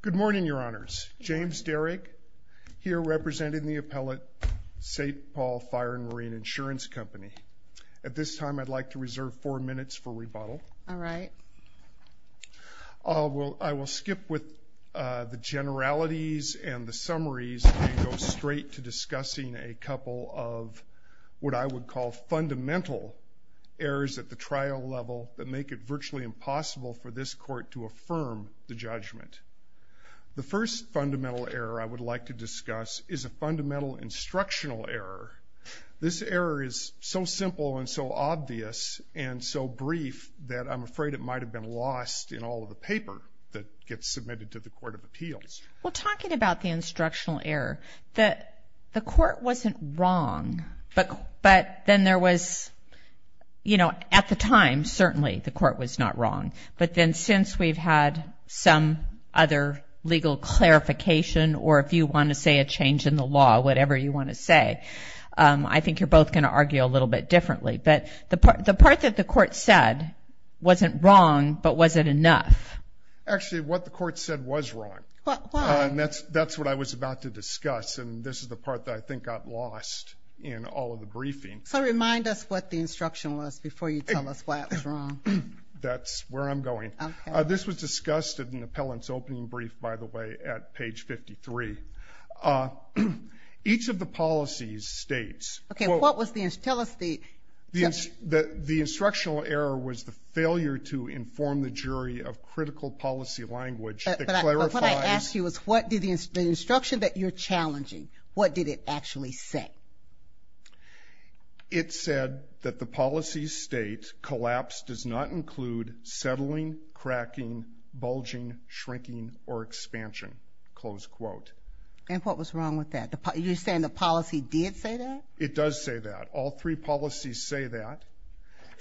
Good morning, Your Honors. James Derrick, here representing the appellate St. Paul Fire & Marine Insurance Company. At this time, I'd like to reserve four minutes for rebuttal. All right. I will skip with the generalities and the summaries and go straight to discussing a couple of what I would call fundamental errors at the trial level that make it virtually impossible for this Court to affirm the judgment. The first fundamental error I would like to discuss is a fundamental instructional error. This error is so simple and so obvious and so brief that I'm afraid it might have been lost in all of the paper that gets submitted to the Court of Appeals. Well, talking about the instructional error, the Court wasn't wrong, but then there was, you know, at the time, certainly the Court was not wrong. But then since we've had some other legal clarification, or if you want to say a change in the law, whatever you want to say, I think you're both going to argue a little bit differently. But the part that the Court said wasn't wrong, but was it enough? Actually, what the Court said was wrong. Well, why? And that's what I was about to discuss. And this is the part that I think got lost in all of the briefing. So remind us what the instruction was before you tell us why it was wrong. That's where I'm going. This was discussed in the appellant's opening brief, by the way, at page 53. Each of the policies states... Okay, what was the... tell us the... The instructional error was the failure to inform the jury of critical policy language that clarifies... But what I ask you is what did the instruction that you're challenging, what did it actually say? It said that the policy state collapse does not include settling, cracking, bulging, shrinking, or expansion, close quote. And what was wrong with that? You're saying the policy did say that? It does say that. All three policies say that.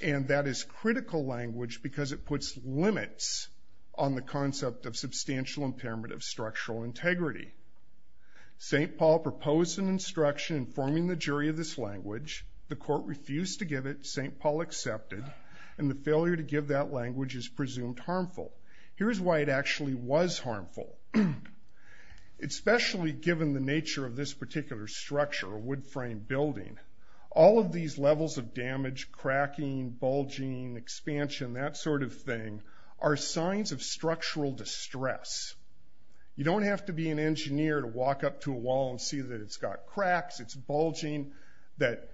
And that is critical language because it puts limits on the concept of substantial impairment of structural integrity. St. Paul proposed an instruction informing the jury of this language. The court refused to give it. St. Paul accepted. And the failure to give that language is presumed harmful. Here's why it actually was harmful. Especially given the nature of this particular structure, a wood frame building. All of these levels of damage, cracking, bulging, expansion, that sort of thing, are signs of structural distress. You don't have to be an engineer to walk up to a wall and see that it's got cracks, it's bulging, that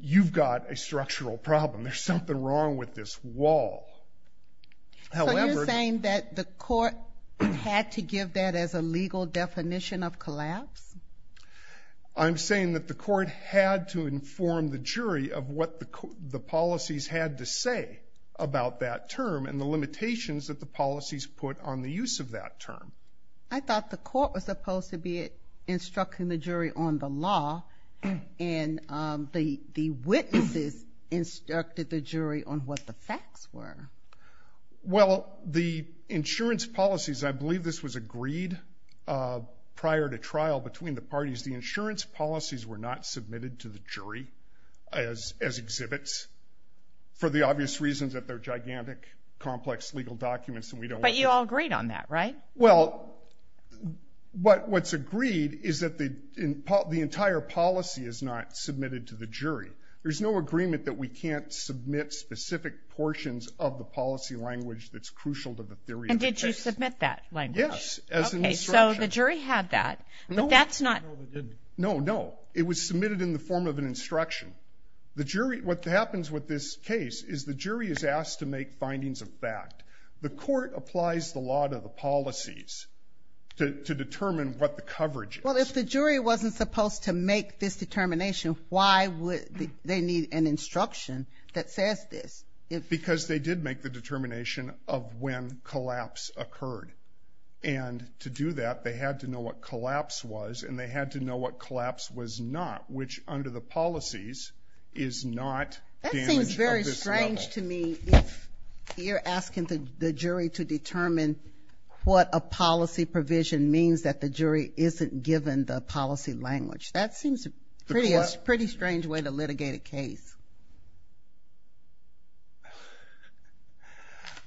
you've got a structural problem. There's something wrong with this wall. So you're saying that the court had to give that as a legal definition of collapse? I'm saying that the court had to inform the jury of what the policies had to say about that term and the limitations that the policies put on the use of that term. I thought the court was supposed to be instructing the jury on the law and the witnesses instructed the jury on what the facts were. Well, the insurance policies, I believe this was agreed prior to trial between the parties, the insurance policies were not submitted to the jury as exhibits for the obvious reasons that they're gigantic, complex legal documents and we don't want them. But you all agreed on that, right? Well, what's agreed is that the entire policy is not submitted to the jury. There's no agreement that we can't submit specific portions of the policy language that's crucial to the theory of the case. And did you submit that language? Yes. Okay, so the jury had that. No, no. It was submitted in the form of an instruction. The jury, what happens with this case is the jury is asked to make findings of fact. The court applies the law to the policies to determine what the coverage is. Well, if the jury wasn't supposed to make this determination, why would they need an instruction that says this? Because they did make the determination of when collapse occurred. And to do that, they had to know what collapse was and they had to know what collapse was not, which under the policies is not damage of this level. That seems very strange to me if you're asking the jury to determine what a policy provision means that the jury isn't given the policy language. That seems a pretty strange way to litigate a case.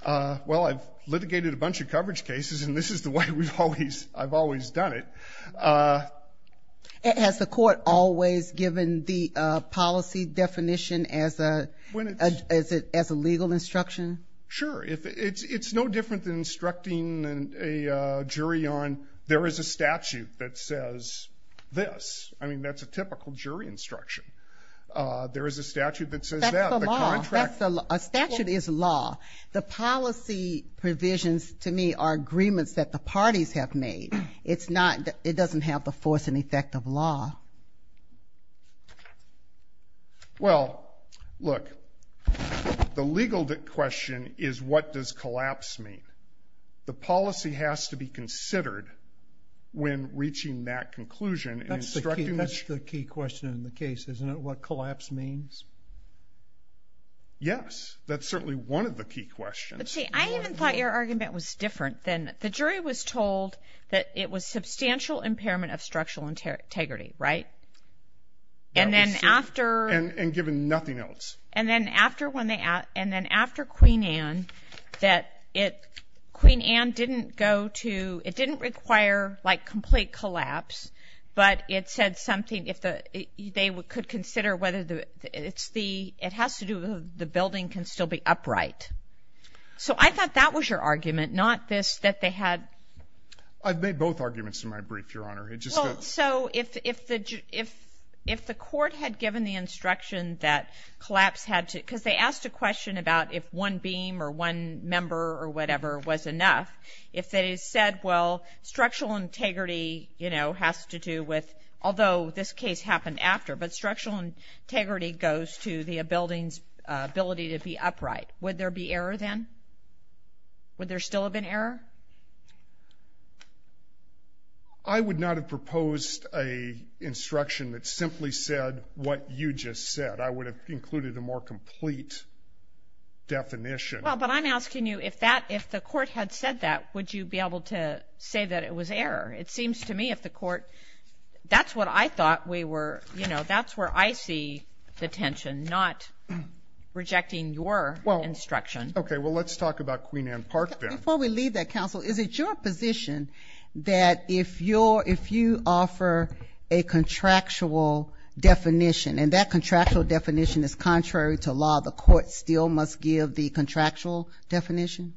Well, I've litigated a bunch of coverage cases and this is the way I've always done it. And has the court always given the policy definition as a legal instruction? Sure. It's no different than instructing a jury on there is a statute that says this. I mean, that's a typical jury instruction. There is a statute that says that. That's the law. A statute is law. The policy provisions to me are agreements that the parties have made. It's not, it doesn't have the force and effect of law. Well, look, the legal question is what does collapse mean? The policy has to be considered when reaching that conclusion. That's the key question in the case, isn't it? What collapse means? Yes, that's certainly one of the key questions. But see, I even thought your argument was different than, the jury was told that it was substantial impairment of structural integrity, right? And then after... And given nothing else. And then after when they, and then after Queen Anne that it, Queen Anne didn't go to, it didn't require like complete collapse, but it said something if they could consider whether it's the, it has to do with the building can still be upright. So I thought that was your argument, not this that they had... I've made both arguments in my brief, Your Honor. So if the court had given the instruction that collapse had to, because they asked a question about if one beam or one member or whatever was enough. If they said, well, structural integrity, you know, has to do with, although this case happened after, but structural integrity goes to the building's ability to be upright. Would there be error then? Would there still have been error? I would not have proposed a instruction that simply said what you just said. I would have included a more complete definition. Well, but I'm asking you if that, if the court had said that, would you be able to say that it was error? It seems to me if the court, that's what I thought we were, you know, that's where I see the tension, not rejecting your... Instruction. Okay, well, let's talk about Queen Anne Park then. Before we leave that, counsel, is it your position that if you're, if you offer a contractual definition and that contractual definition is contrary to law, the court still must give the contractual definition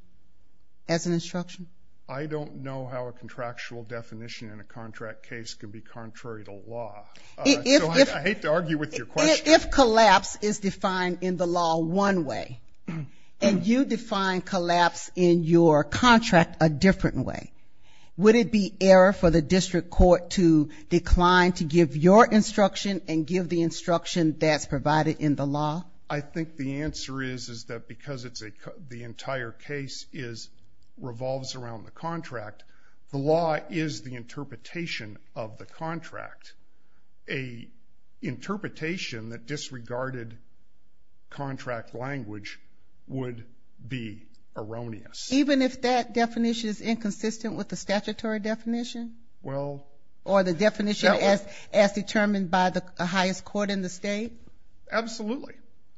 as an instruction? I don't know how a contractual definition in a contract case can be contrary to law. I hate to argue with your question. If collapse is defined in the law one way, and you define collapse in your contract a different way, would it be error for the district court to decline to give your instruction and give the instruction that's provided in the law? I think the answer is, is that because it's a, the entire case is, revolves around the contract, the law is the interpretation of the contract. A interpretation that disregarded contract language would be erroneous. Even if that definition is inconsistent with the statutory definition? Well... Or the definition as determined by the highest court in the state? Absolutely.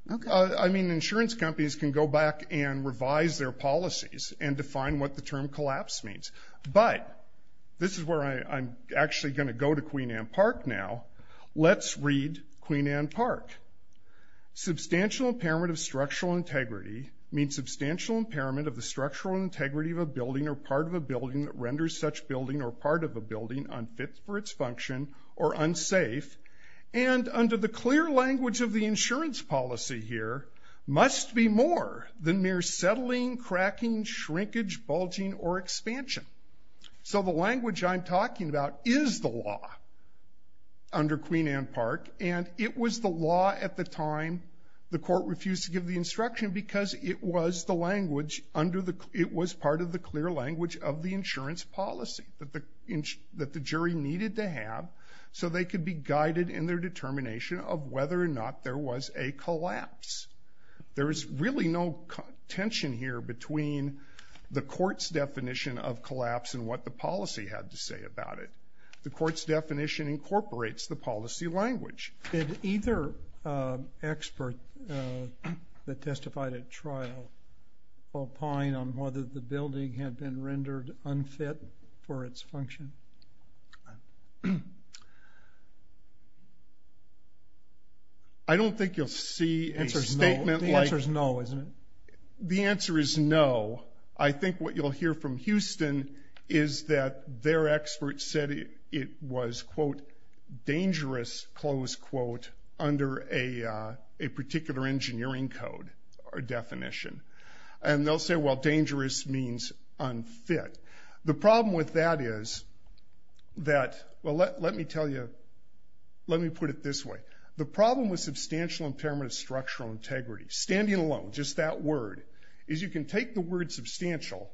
I mean, insurance companies can go back and revise their policies and define what the term collapse means. But this is where I'm actually going to go to Queen Anne Park now. Let's read Queen Anne Park. Substantial impairment of structural integrity means substantial impairment of the structural integrity of a building or part of a building that renders such building or part of a building unfit for its function or unsafe. And under the clear language of the insurance policy here, must be more than mere settling, cracking, shrinkage, bulging, or expansion. So the language I'm talking about is the law under Queen Anne Park. And it was the law at the time the court refused to give the instruction because it was the language under the, it was part of the clear language of the insurance policy that the, that the jury needed to have so they could be guided in their determination of whether or not there was a collapse. There is really no tension here between the court's definition of collapse and what the policy had to say about it. The court's definition incorporates the policy language. Did either expert that testified at trial opine on whether the building had been rendered unfit for its function? I don't think you'll see a statement like... The answer is no, isn't it? The answer is no. I think what you'll hear from Houston is that their expert said it was, quote, dangerous, close quote, under a particular engineering code or definition. And they'll say, well, dangerous means unfit. The problem with that is that, well, let me tell you, let me put it this way. The problem with substantial impairment of structural integrity, standing alone, just that word, is you can take the word substantial.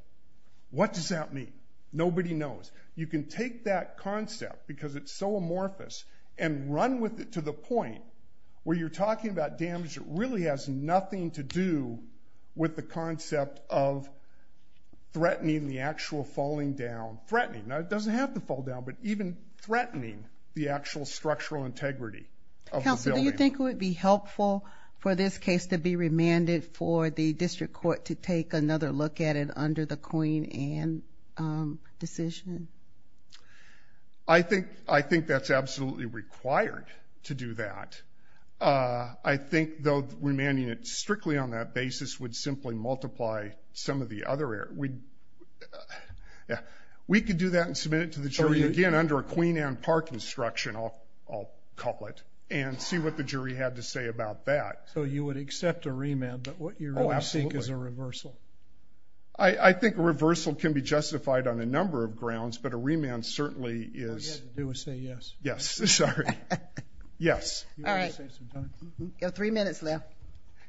What does that mean? Nobody knows. You can take that concept because it's so amorphous and run with it to the point where you're talking about damage that really has nothing to do with the concept of the actual falling down, threatening. Now, it doesn't have to fall down, but even threatening the actual structural integrity of the building. Counselor, do you think it would be helpful for this case to be remanded for the district court to take another look at it under the Queen Anne decision? I think that's absolutely required to do that. I think though remanding it strictly on that basis would simply multiply some of the other areas. We could do that and submit it to the jury again under a Queen Anne Park instruction, I'll call it, and see what the jury had to say about that. So you would accept a remand, but what you really think is a reversal? I think a reversal can be justified on a number of grounds, but a remand certainly is... All you have to do is say yes. Yes, sorry. Yes. All right. You have three minutes left.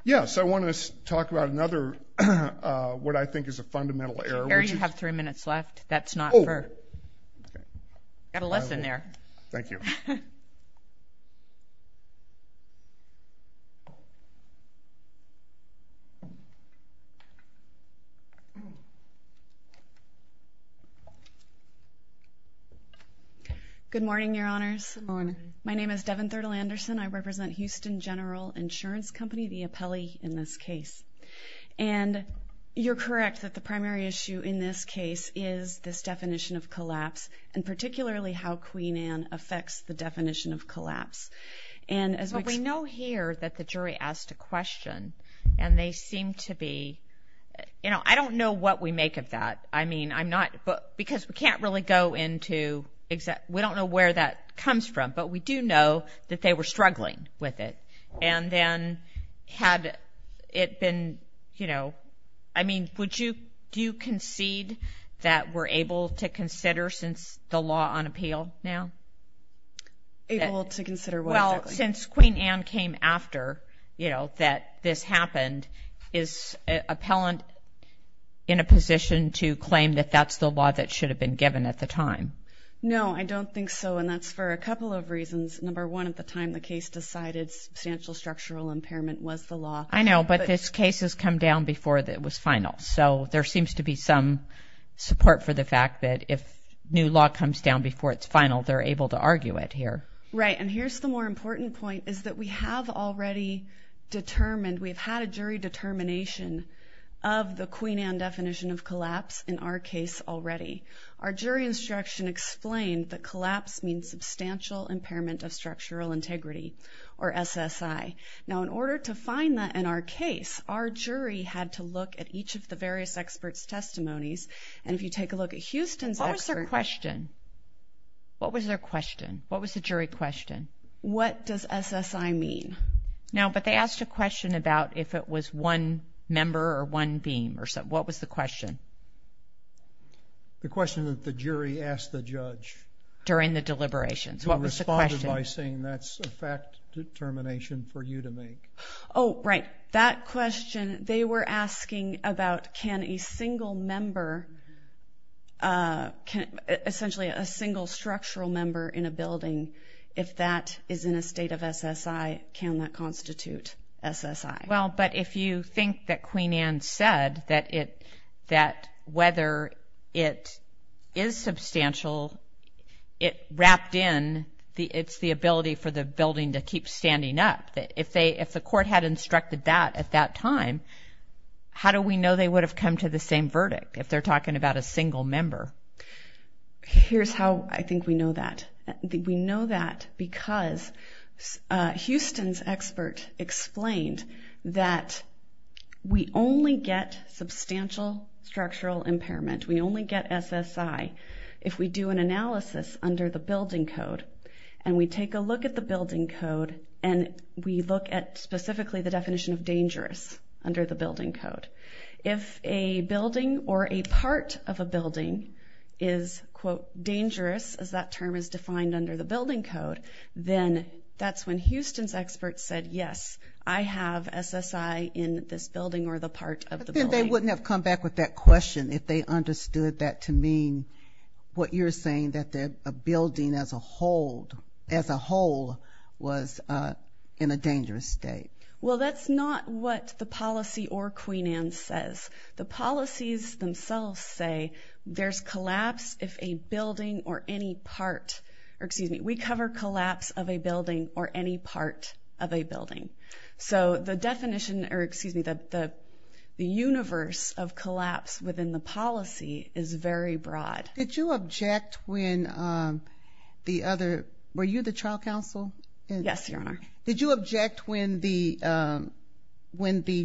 Yes, I want to talk about another, what I think is a fundamental error, which is... Chair, you have three minutes left. That's not for... Oh, okay. You've got a lesson there. Thank you. Good morning, Your Honors. Good morning. My name is Devon Thirtle-Anderson. I represent Houston General Insurance Company, the appellee in this case. And you're correct that the primary issue in this case is this definition of collapse, and particularly how Queen Anne affects the definition of collapse. And as we... But we know here that the jury asked a question, and they seem to be... You know, I don't know what we make of that. I mean, I'm not... Because we can't really go into exact... We don't know where that comes from, but we do know that they were struggling with it. And then had it been, you know... I mean, would you... Do you concede that we're able to consider since the law on appeal now? Able to consider what exactly? Well, since Queen Anne came after, you know, that this happened, is an appellant in a position to claim that that's the law that should have been given at the time? No, I don't think so. And that's for a couple of reasons. Number one, at the time the case decided substantial structural impairment was the law. I know, but this case has come down before it was final. So there seems to be some support for the fact that if new law comes down before it's final, they're able to argue it here. Right. And here's the more important point, is that we have already determined... We've had a jury determination of the Queen Anne definition of collapse in our case already. Our jury instruction explained that collapse means substantial impairment of structural integrity, or SSI. Now, in order to find that in our case, our jury had to look at each of the various experts' testimonies. And if you take a look at Houston's... What was their question? What was their question? What was the jury question? What does SSI mean? No, but they asked a question about if it was one member or one beam or something. What was the question? The question that the jury asked the judge. During the deliberations. What was the question? Who responded by saying, that's a fact determination for you to make. Oh, right. That question, they were asking about, can a single member... Essentially, a single structural member in a building, if that is in a state of SSI, can that constitute SSI? Well, but if you think that Queen Anne said that whether it is substantial, it wrapped in the... It's the ability for the building to keep standing up. If the court had instructed that at that time, how do we know they would have come to the same verdict if they're talking about a single member? Here's how I think we know that. We know that because Houston's expert explained that we only get substantial structural impairment. We only get SSI if we do an analysis under the building code and we take a look at the building code and we look at specifically the definition of dangerous under the building code. If a building or a part of a building is, quote, dangerous, as that term is defined under the building code, then that's when Houston's expert said, yes, I have SSI in this building or the part of the building. But then they wouldn't have come back with that question if they understood that to mean what you're saying, that a building as a whole was in a dangerous state. Well, that's not what the policy or Queen Anne says. The policies themselves say there's collapse if a building or any part, or excuse me, we cover collapse of a building or any part of a building. So the definition or excuse me, the universe of collapse within the policy is very broad. Did you object when the other, were you the trial counsel? Yes, Your Honor. Did you object when the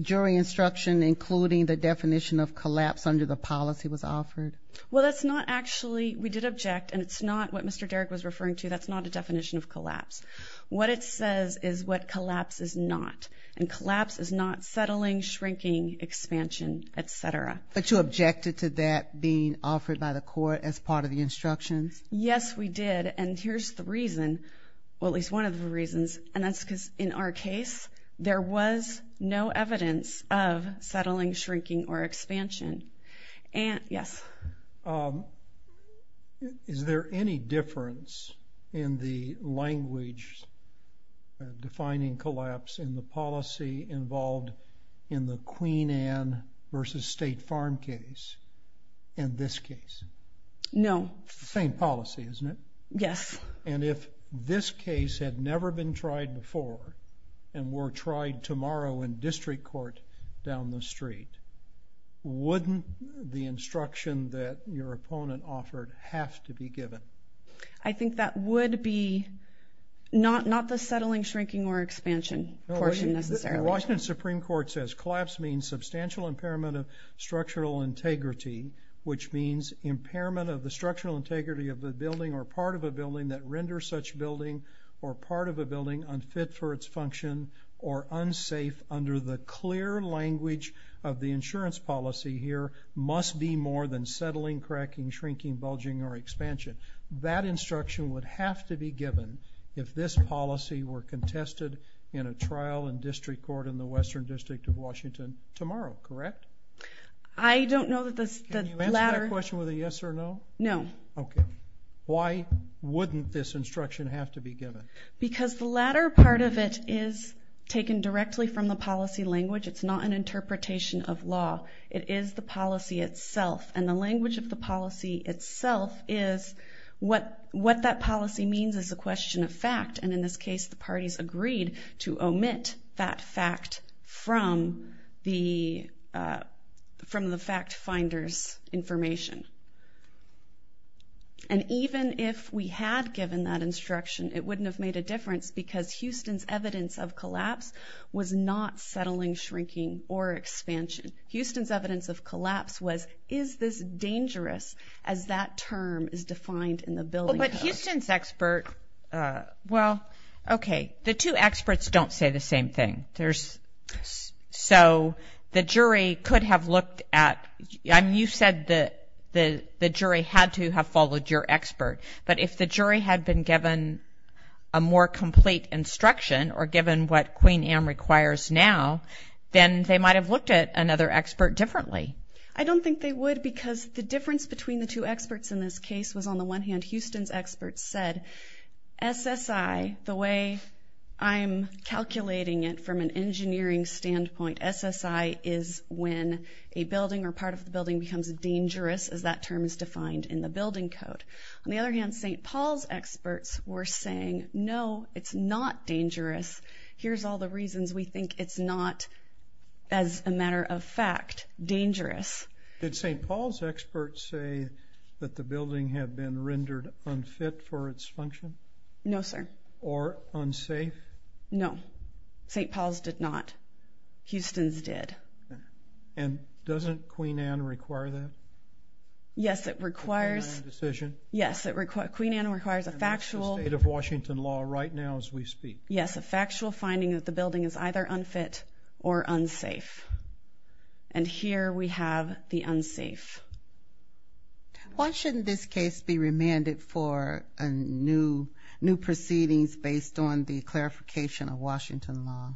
jury instruction, including the definition of collapse under the policy was offered? Well, that's not actually, we did object and it's not what Mr. Derrick was referring to. That's not a definition of collapse. What it says is what collapse is not. And collapse is not settling, shrinking, expansion, et cetera. But you objected to that being offered by the court as part of the instructions? Yes, we did. And here's the reason, well, at least one of the reasons, and that's because in our case, there was no evidence of settling, shrinking or expansion. Yes. Is there any difference in the language defining collapse in the policy involved in the Queen Anne versus State Farm case in this case? No. Same policy, isn't it? Yes. And if this case had never been tried before and were tried tomorrow in district court down the street, wouldn't the instruction that your opponent offered have to be given? I think that would be not the settling, shrinking, or expansion portion necessarily. Washington Supreme Court says collapse means substantial impairment of structural integrity, which means impairment of the structural integrity of the building or part of a building that renders such building or part of a building unfit for its function or unsafe under the clear language of the insurance policy here must be more than settling, cracking, shrinking, bulging, or expansion. That instruction would have to be given if this policy were contested in a trial in district court in the Western District of Washington tomorrow, correct? I don't know that the latter... Can you answer that question with a yes or no? No. Okay. Why wouldn't this instruction have to be given? Because the latter part of it is taken directly from the policy language. It's not an interpretation of law. It is the policy itself. And the language of the policy itself is what that policy means is a question of fact. And in this case, the parties agreed to omit that fact from the fact finders information. And even if we had given that instruction, it wouldn't have made a difference because Houston's evidence of collapse was not settling, shrinking, or expansion. Houston's evidence of collapse was, is this dangerous as that term is defined in the building code? But Houston's expert... Well, okay. The two experts don't say the same thing. So the jury could have looked at... You said that the jury had to have followed your expert. But if the jury had been given a more complete instruction or given what Queen Anne requires now, then they might have looked at another expert differently. I don't think they would because the difference between the two experts in this case was on the one hand, Houston's experts said SSI, the way I'm calculating it from an engineering standpoint, SSI is when a building or part of the building becomes dangerous as that term is defined in the building code. On the other hand, St. Paul's experts were saying, no, it's not dangerous. Here's all the reasons we think it's not, as a matter of fact, dangerous. Did St. Paul's experts say that the building had been rendered unfit for its function? No, sir. Or unsafe? No, St. Paul's did not. Houston's did. And doesn't Queen Anne require that? Yes, it requires... Yes, Queen Anne requires a factual... That's the state of Washington law right now as we speak. Yes, a factual finding that the building is either unfit or unsafe. And here we have the unsafe. Why shouldn't this case be remanded for new proceedings based on the clarification of Washington law?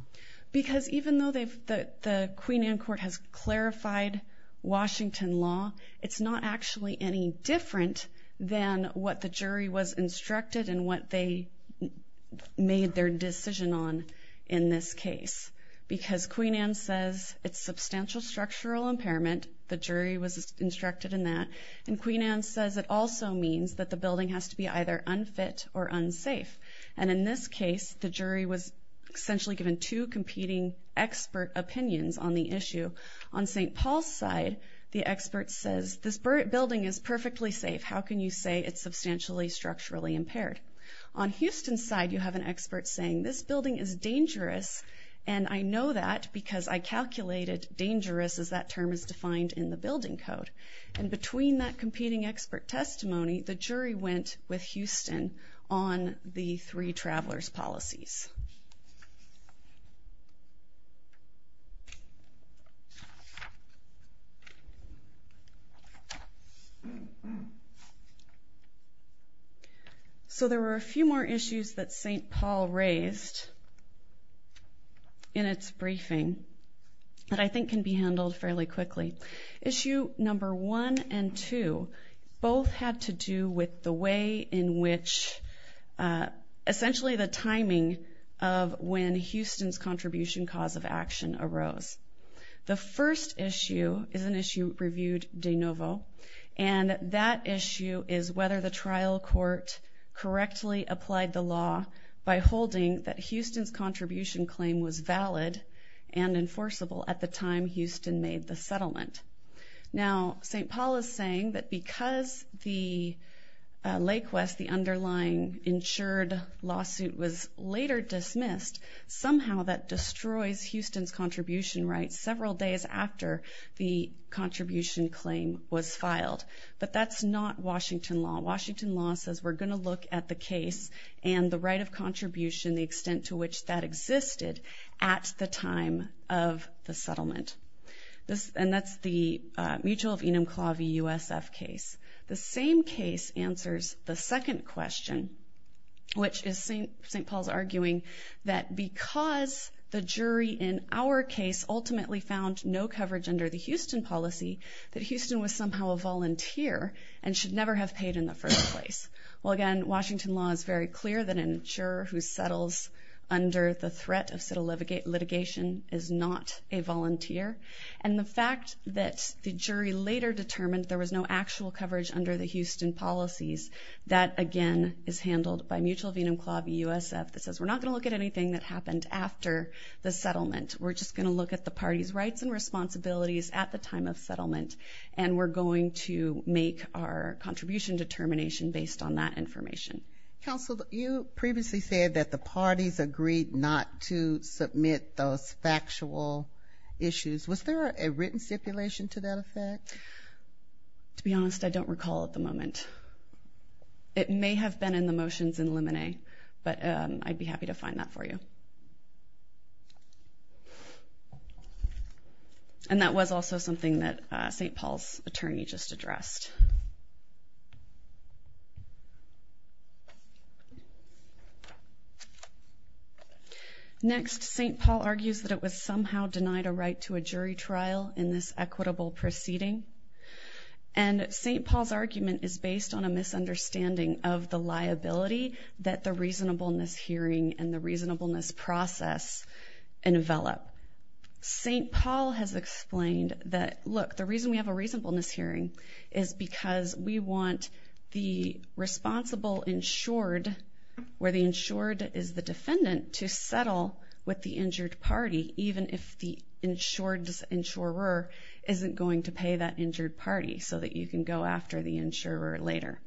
Because even though the Queen Anne court has clarified Washington law, it's not actually any different than what the jury was instructed and what they made their decision on in this case. Because Queen Anne says it's substantial structural impairment. The jury was instructed in that. And Queen Anne says it also means that the building has to be either unfit or unsafe. And in this case, the jury was essentially given two competing expert opinions on the issue. On St. Paul's side, the expert says, this building is perfectly safe. How can you say it's substantially structurally impaired? On Houston's side, you have an expert saying, this building is dangerous. And I know that because I calculated dangerous as that term is defined in the building code. And between that competing expert testimony, the jury went with Houston on the three travelers policies. So there were a few more issues that St. Paul raised in its briefing that I think can be handled fairly quickly. Issue number one and two, both had to do with the way in which, essentially the timing of when Houston's contribution cause of action arose. The first issue is an issue reviewed de novo. And that issue is whether the trial court correctly applied the law by holding that Houston's contribution claim was valid and enforceable at the time Houston made the settlement. Now, St. Paul is saying that because the Lake West, the underlying insured lawsuit was later dismissed, somehow that destroys Houston's contribution several days after the contribution claim was filed. But that's not Washington law. Washington law says, we're gonna look at the case and the right of contribution, the extent to which that existed at the time of the settlement. And that's the Mutual of Enumclaw v. USF case. The same case answers the second question, which is St. Paul's arguing that because the jury in our case ultimately found no coverage under the Houston policy, that Houston was somehow a volunteer and should never have paid in the first place. Well, again, Washington law is very clear that an insurer who settles under the threat of settlement litigation is not a volunteer. And the fact that the jury later determined there was no actual coverage under the Houston policies, that again is handled by Mutual of Enumclaw v. USF that says we're not gonna look at anything that happened after the settlement. We're just gonna look at the party's rights and responsibilities at the time of settlement. And we're going to make our contribution determination based on that information. Counsel, you previously said that the parties agreed not to submit those factual issues. Was there a written stipulation to that effect? To be honest, I don't recall at the moment. It may have been in the motions in Lemonade, but I'd be happy to find that for you. And that was also something that St. Paul's attorney just addressed. Next, St. Paul argues that it was somehow denied a right to a jury trial in this equitable proceeding. And St. Paul's argument is based on a misunderstanding of the liability that the reasonableness hearing and the reasonableness process envelop. St. Paul has explained that, look, the reason we have a reasonableness hearing is because we want the responsible insured, where the insured is the defendant, to settle with the injured party, even if the insured's insurer isn't going to pay that injured party so that you can go after the insurer later.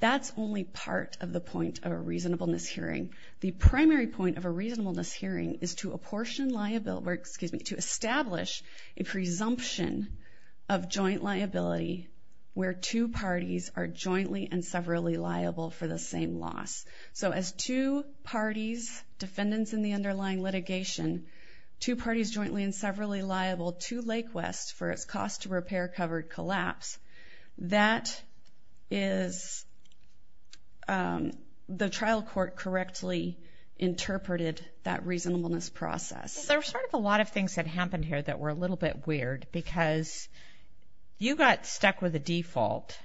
That's only part of the point of a reasonableness hearing. The primary point of a reasonableness hearing is to apportion liability, excuse me, to establish a presumption of joint liability where two parties are jointly and severally liable for the same loss. So as two parties, defendants in the underlying litigation, two parties jointly and severally liable to Lake West for its cost to repair covered collapse, that is the trial court correctly interpreted that reasonableness process. There's sort of a lot of things that happened here that were a little bit weird because you got stuck with the default,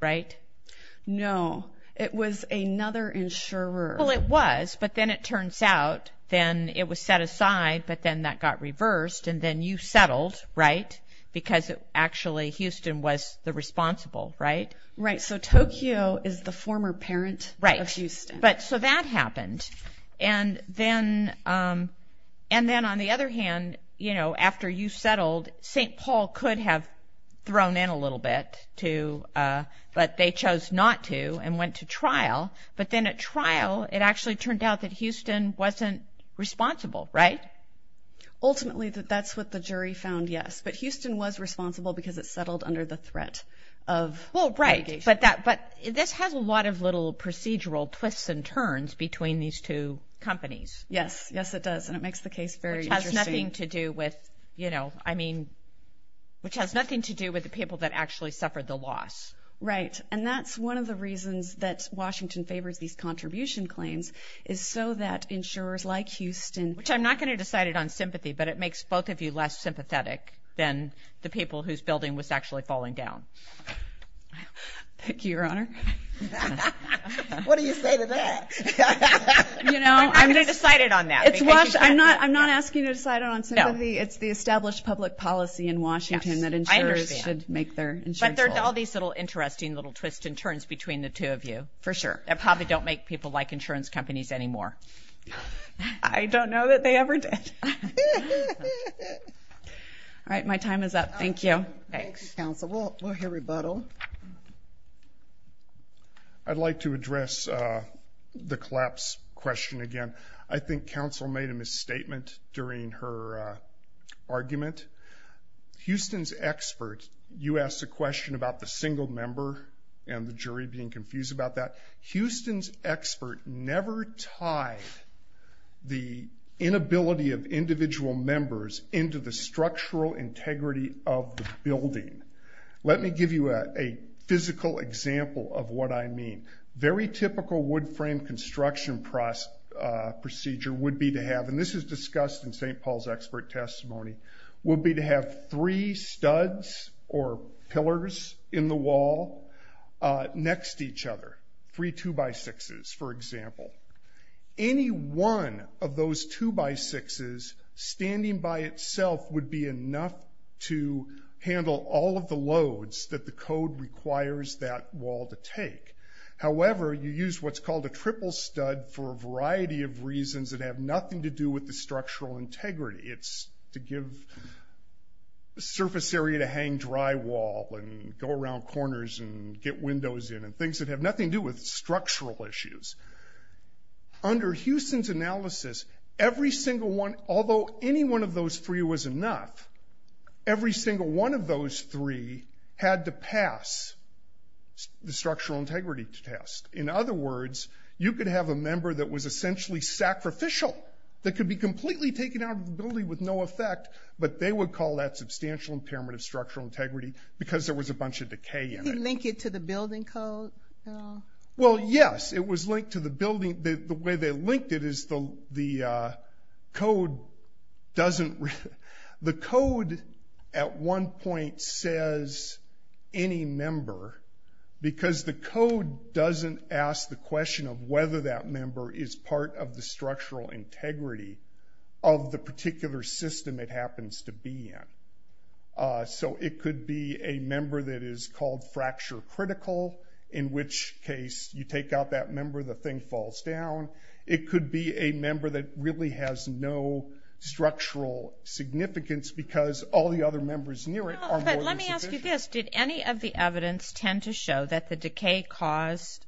right? No, it was another insurer. Well, it was, but then it turns out then it was set aside, but then that got reversed, and then you settled, right? Because actually Houston was the responsible, right? Right, so Tokyo is the former parent of Houston. But so that happened, and then on the other hand, you know, after you settled, St. Paul could have thrown in a little bit, but they chose not to and went to trial. But then at trial, it actually turned out that Houston wasn't responsible, right? Ultimately, that's what the jury found, yes. But Houston was responsible because it settled under the threat of litigation. Well, right, but this has a lot of little procedural twists and turns between these two companies. Yes, yes, it does, and it makes the case very interesting. Which has nothing to do with, you know, I mean, which has nothing to do with the people that actually suffered the loss. Right, and that's one of the reasons that Washington favors these contribution claims is so that insurers like Houston... Which I'm not going to decide it on sympathy, but it makes both of you less sympathetic. Then the people whose building was actually falling down. Thank you, your honor. What do you say to that? You know, I'm not... I'm not going to decide it on that. It's why I'm not, I'm not asking you to decide it on sympathy. It's the established public policy in Washington that insurers should make their insurance law. But there's all these little interesting little twists and turns between the two of you. For sure. That probably don't make people like insurance companies anymore. I don't know that they ever did. All right, my time is up. Thank you. Thanks, counsel. We'll hear rebuttal. I'd like to address the collapse question again. I think counsel made a misstatement during her argument. Houston's expert, you asked a question about the single member and the jury being confused about that. Houston's expert never tied the inability of individual members into the structural integrity of the building. Let me give you a physical example of what I mean. Very typical wood frame construction procedure would be to have, and this is discussed in St. Paul's expert testimony, would be to have three studs or pillars in the wall next to each other. Three two-by-sixes, for example. Any one of those two-by-sixes standing by itself would be enough to handle all of the loads that the code requires that wall to take. However, you use what's called a triple stud for a variety of reasons that have nothing to do with the structural integrity. It's to give surface area to hang drywall and go around corners and get windows in and things that have nothing to do with structural issues. Under Houston's analysis, every single one, although any one of those three was enough, every single one of those three had to pass the structural integrity test. In other words, you could have a member that was essentially sacrificial that could be completely taken out of the building with no effect, but they would call that substantial impairment of structural integrity because there was a bunch of decay in it. He linked it to the building code? Well, yes, it was linked to the building. The way they linked it is the code doesn't... The code at one point says any member because the code doesn't ask the question of whether that member is part of the structural integrity of the particular system it happens to be in. So it could be a member that is called fracture critical, in which case you take out that member, the thing falls down. It could be a member that really has no structural significance because all the other members near it... No, but let me ask you this. Did any of the evidence tend to show that the decay caused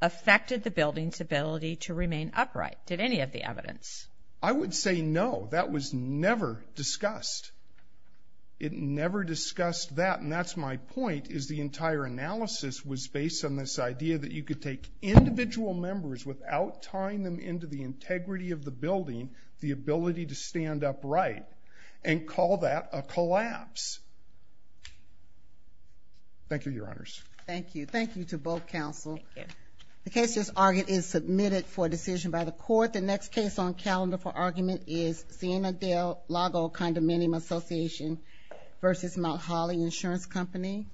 affected the building's ability to remain upright? Did any of the evidence? I would say no, that was never discussed. It never discussed that. And that's my point is the entire analysis was based on this idea that you could take individual members without tying them into the integrity of the building, the ability to stand upright and call that a collapse. Thank you, your honors. Thank you. Thank you to both counsel. The case just argued is submitted for decision by the court. The next case on calendar for argument is Siena Dale Lago Condominium Association versus Mount Holly Insurance Company.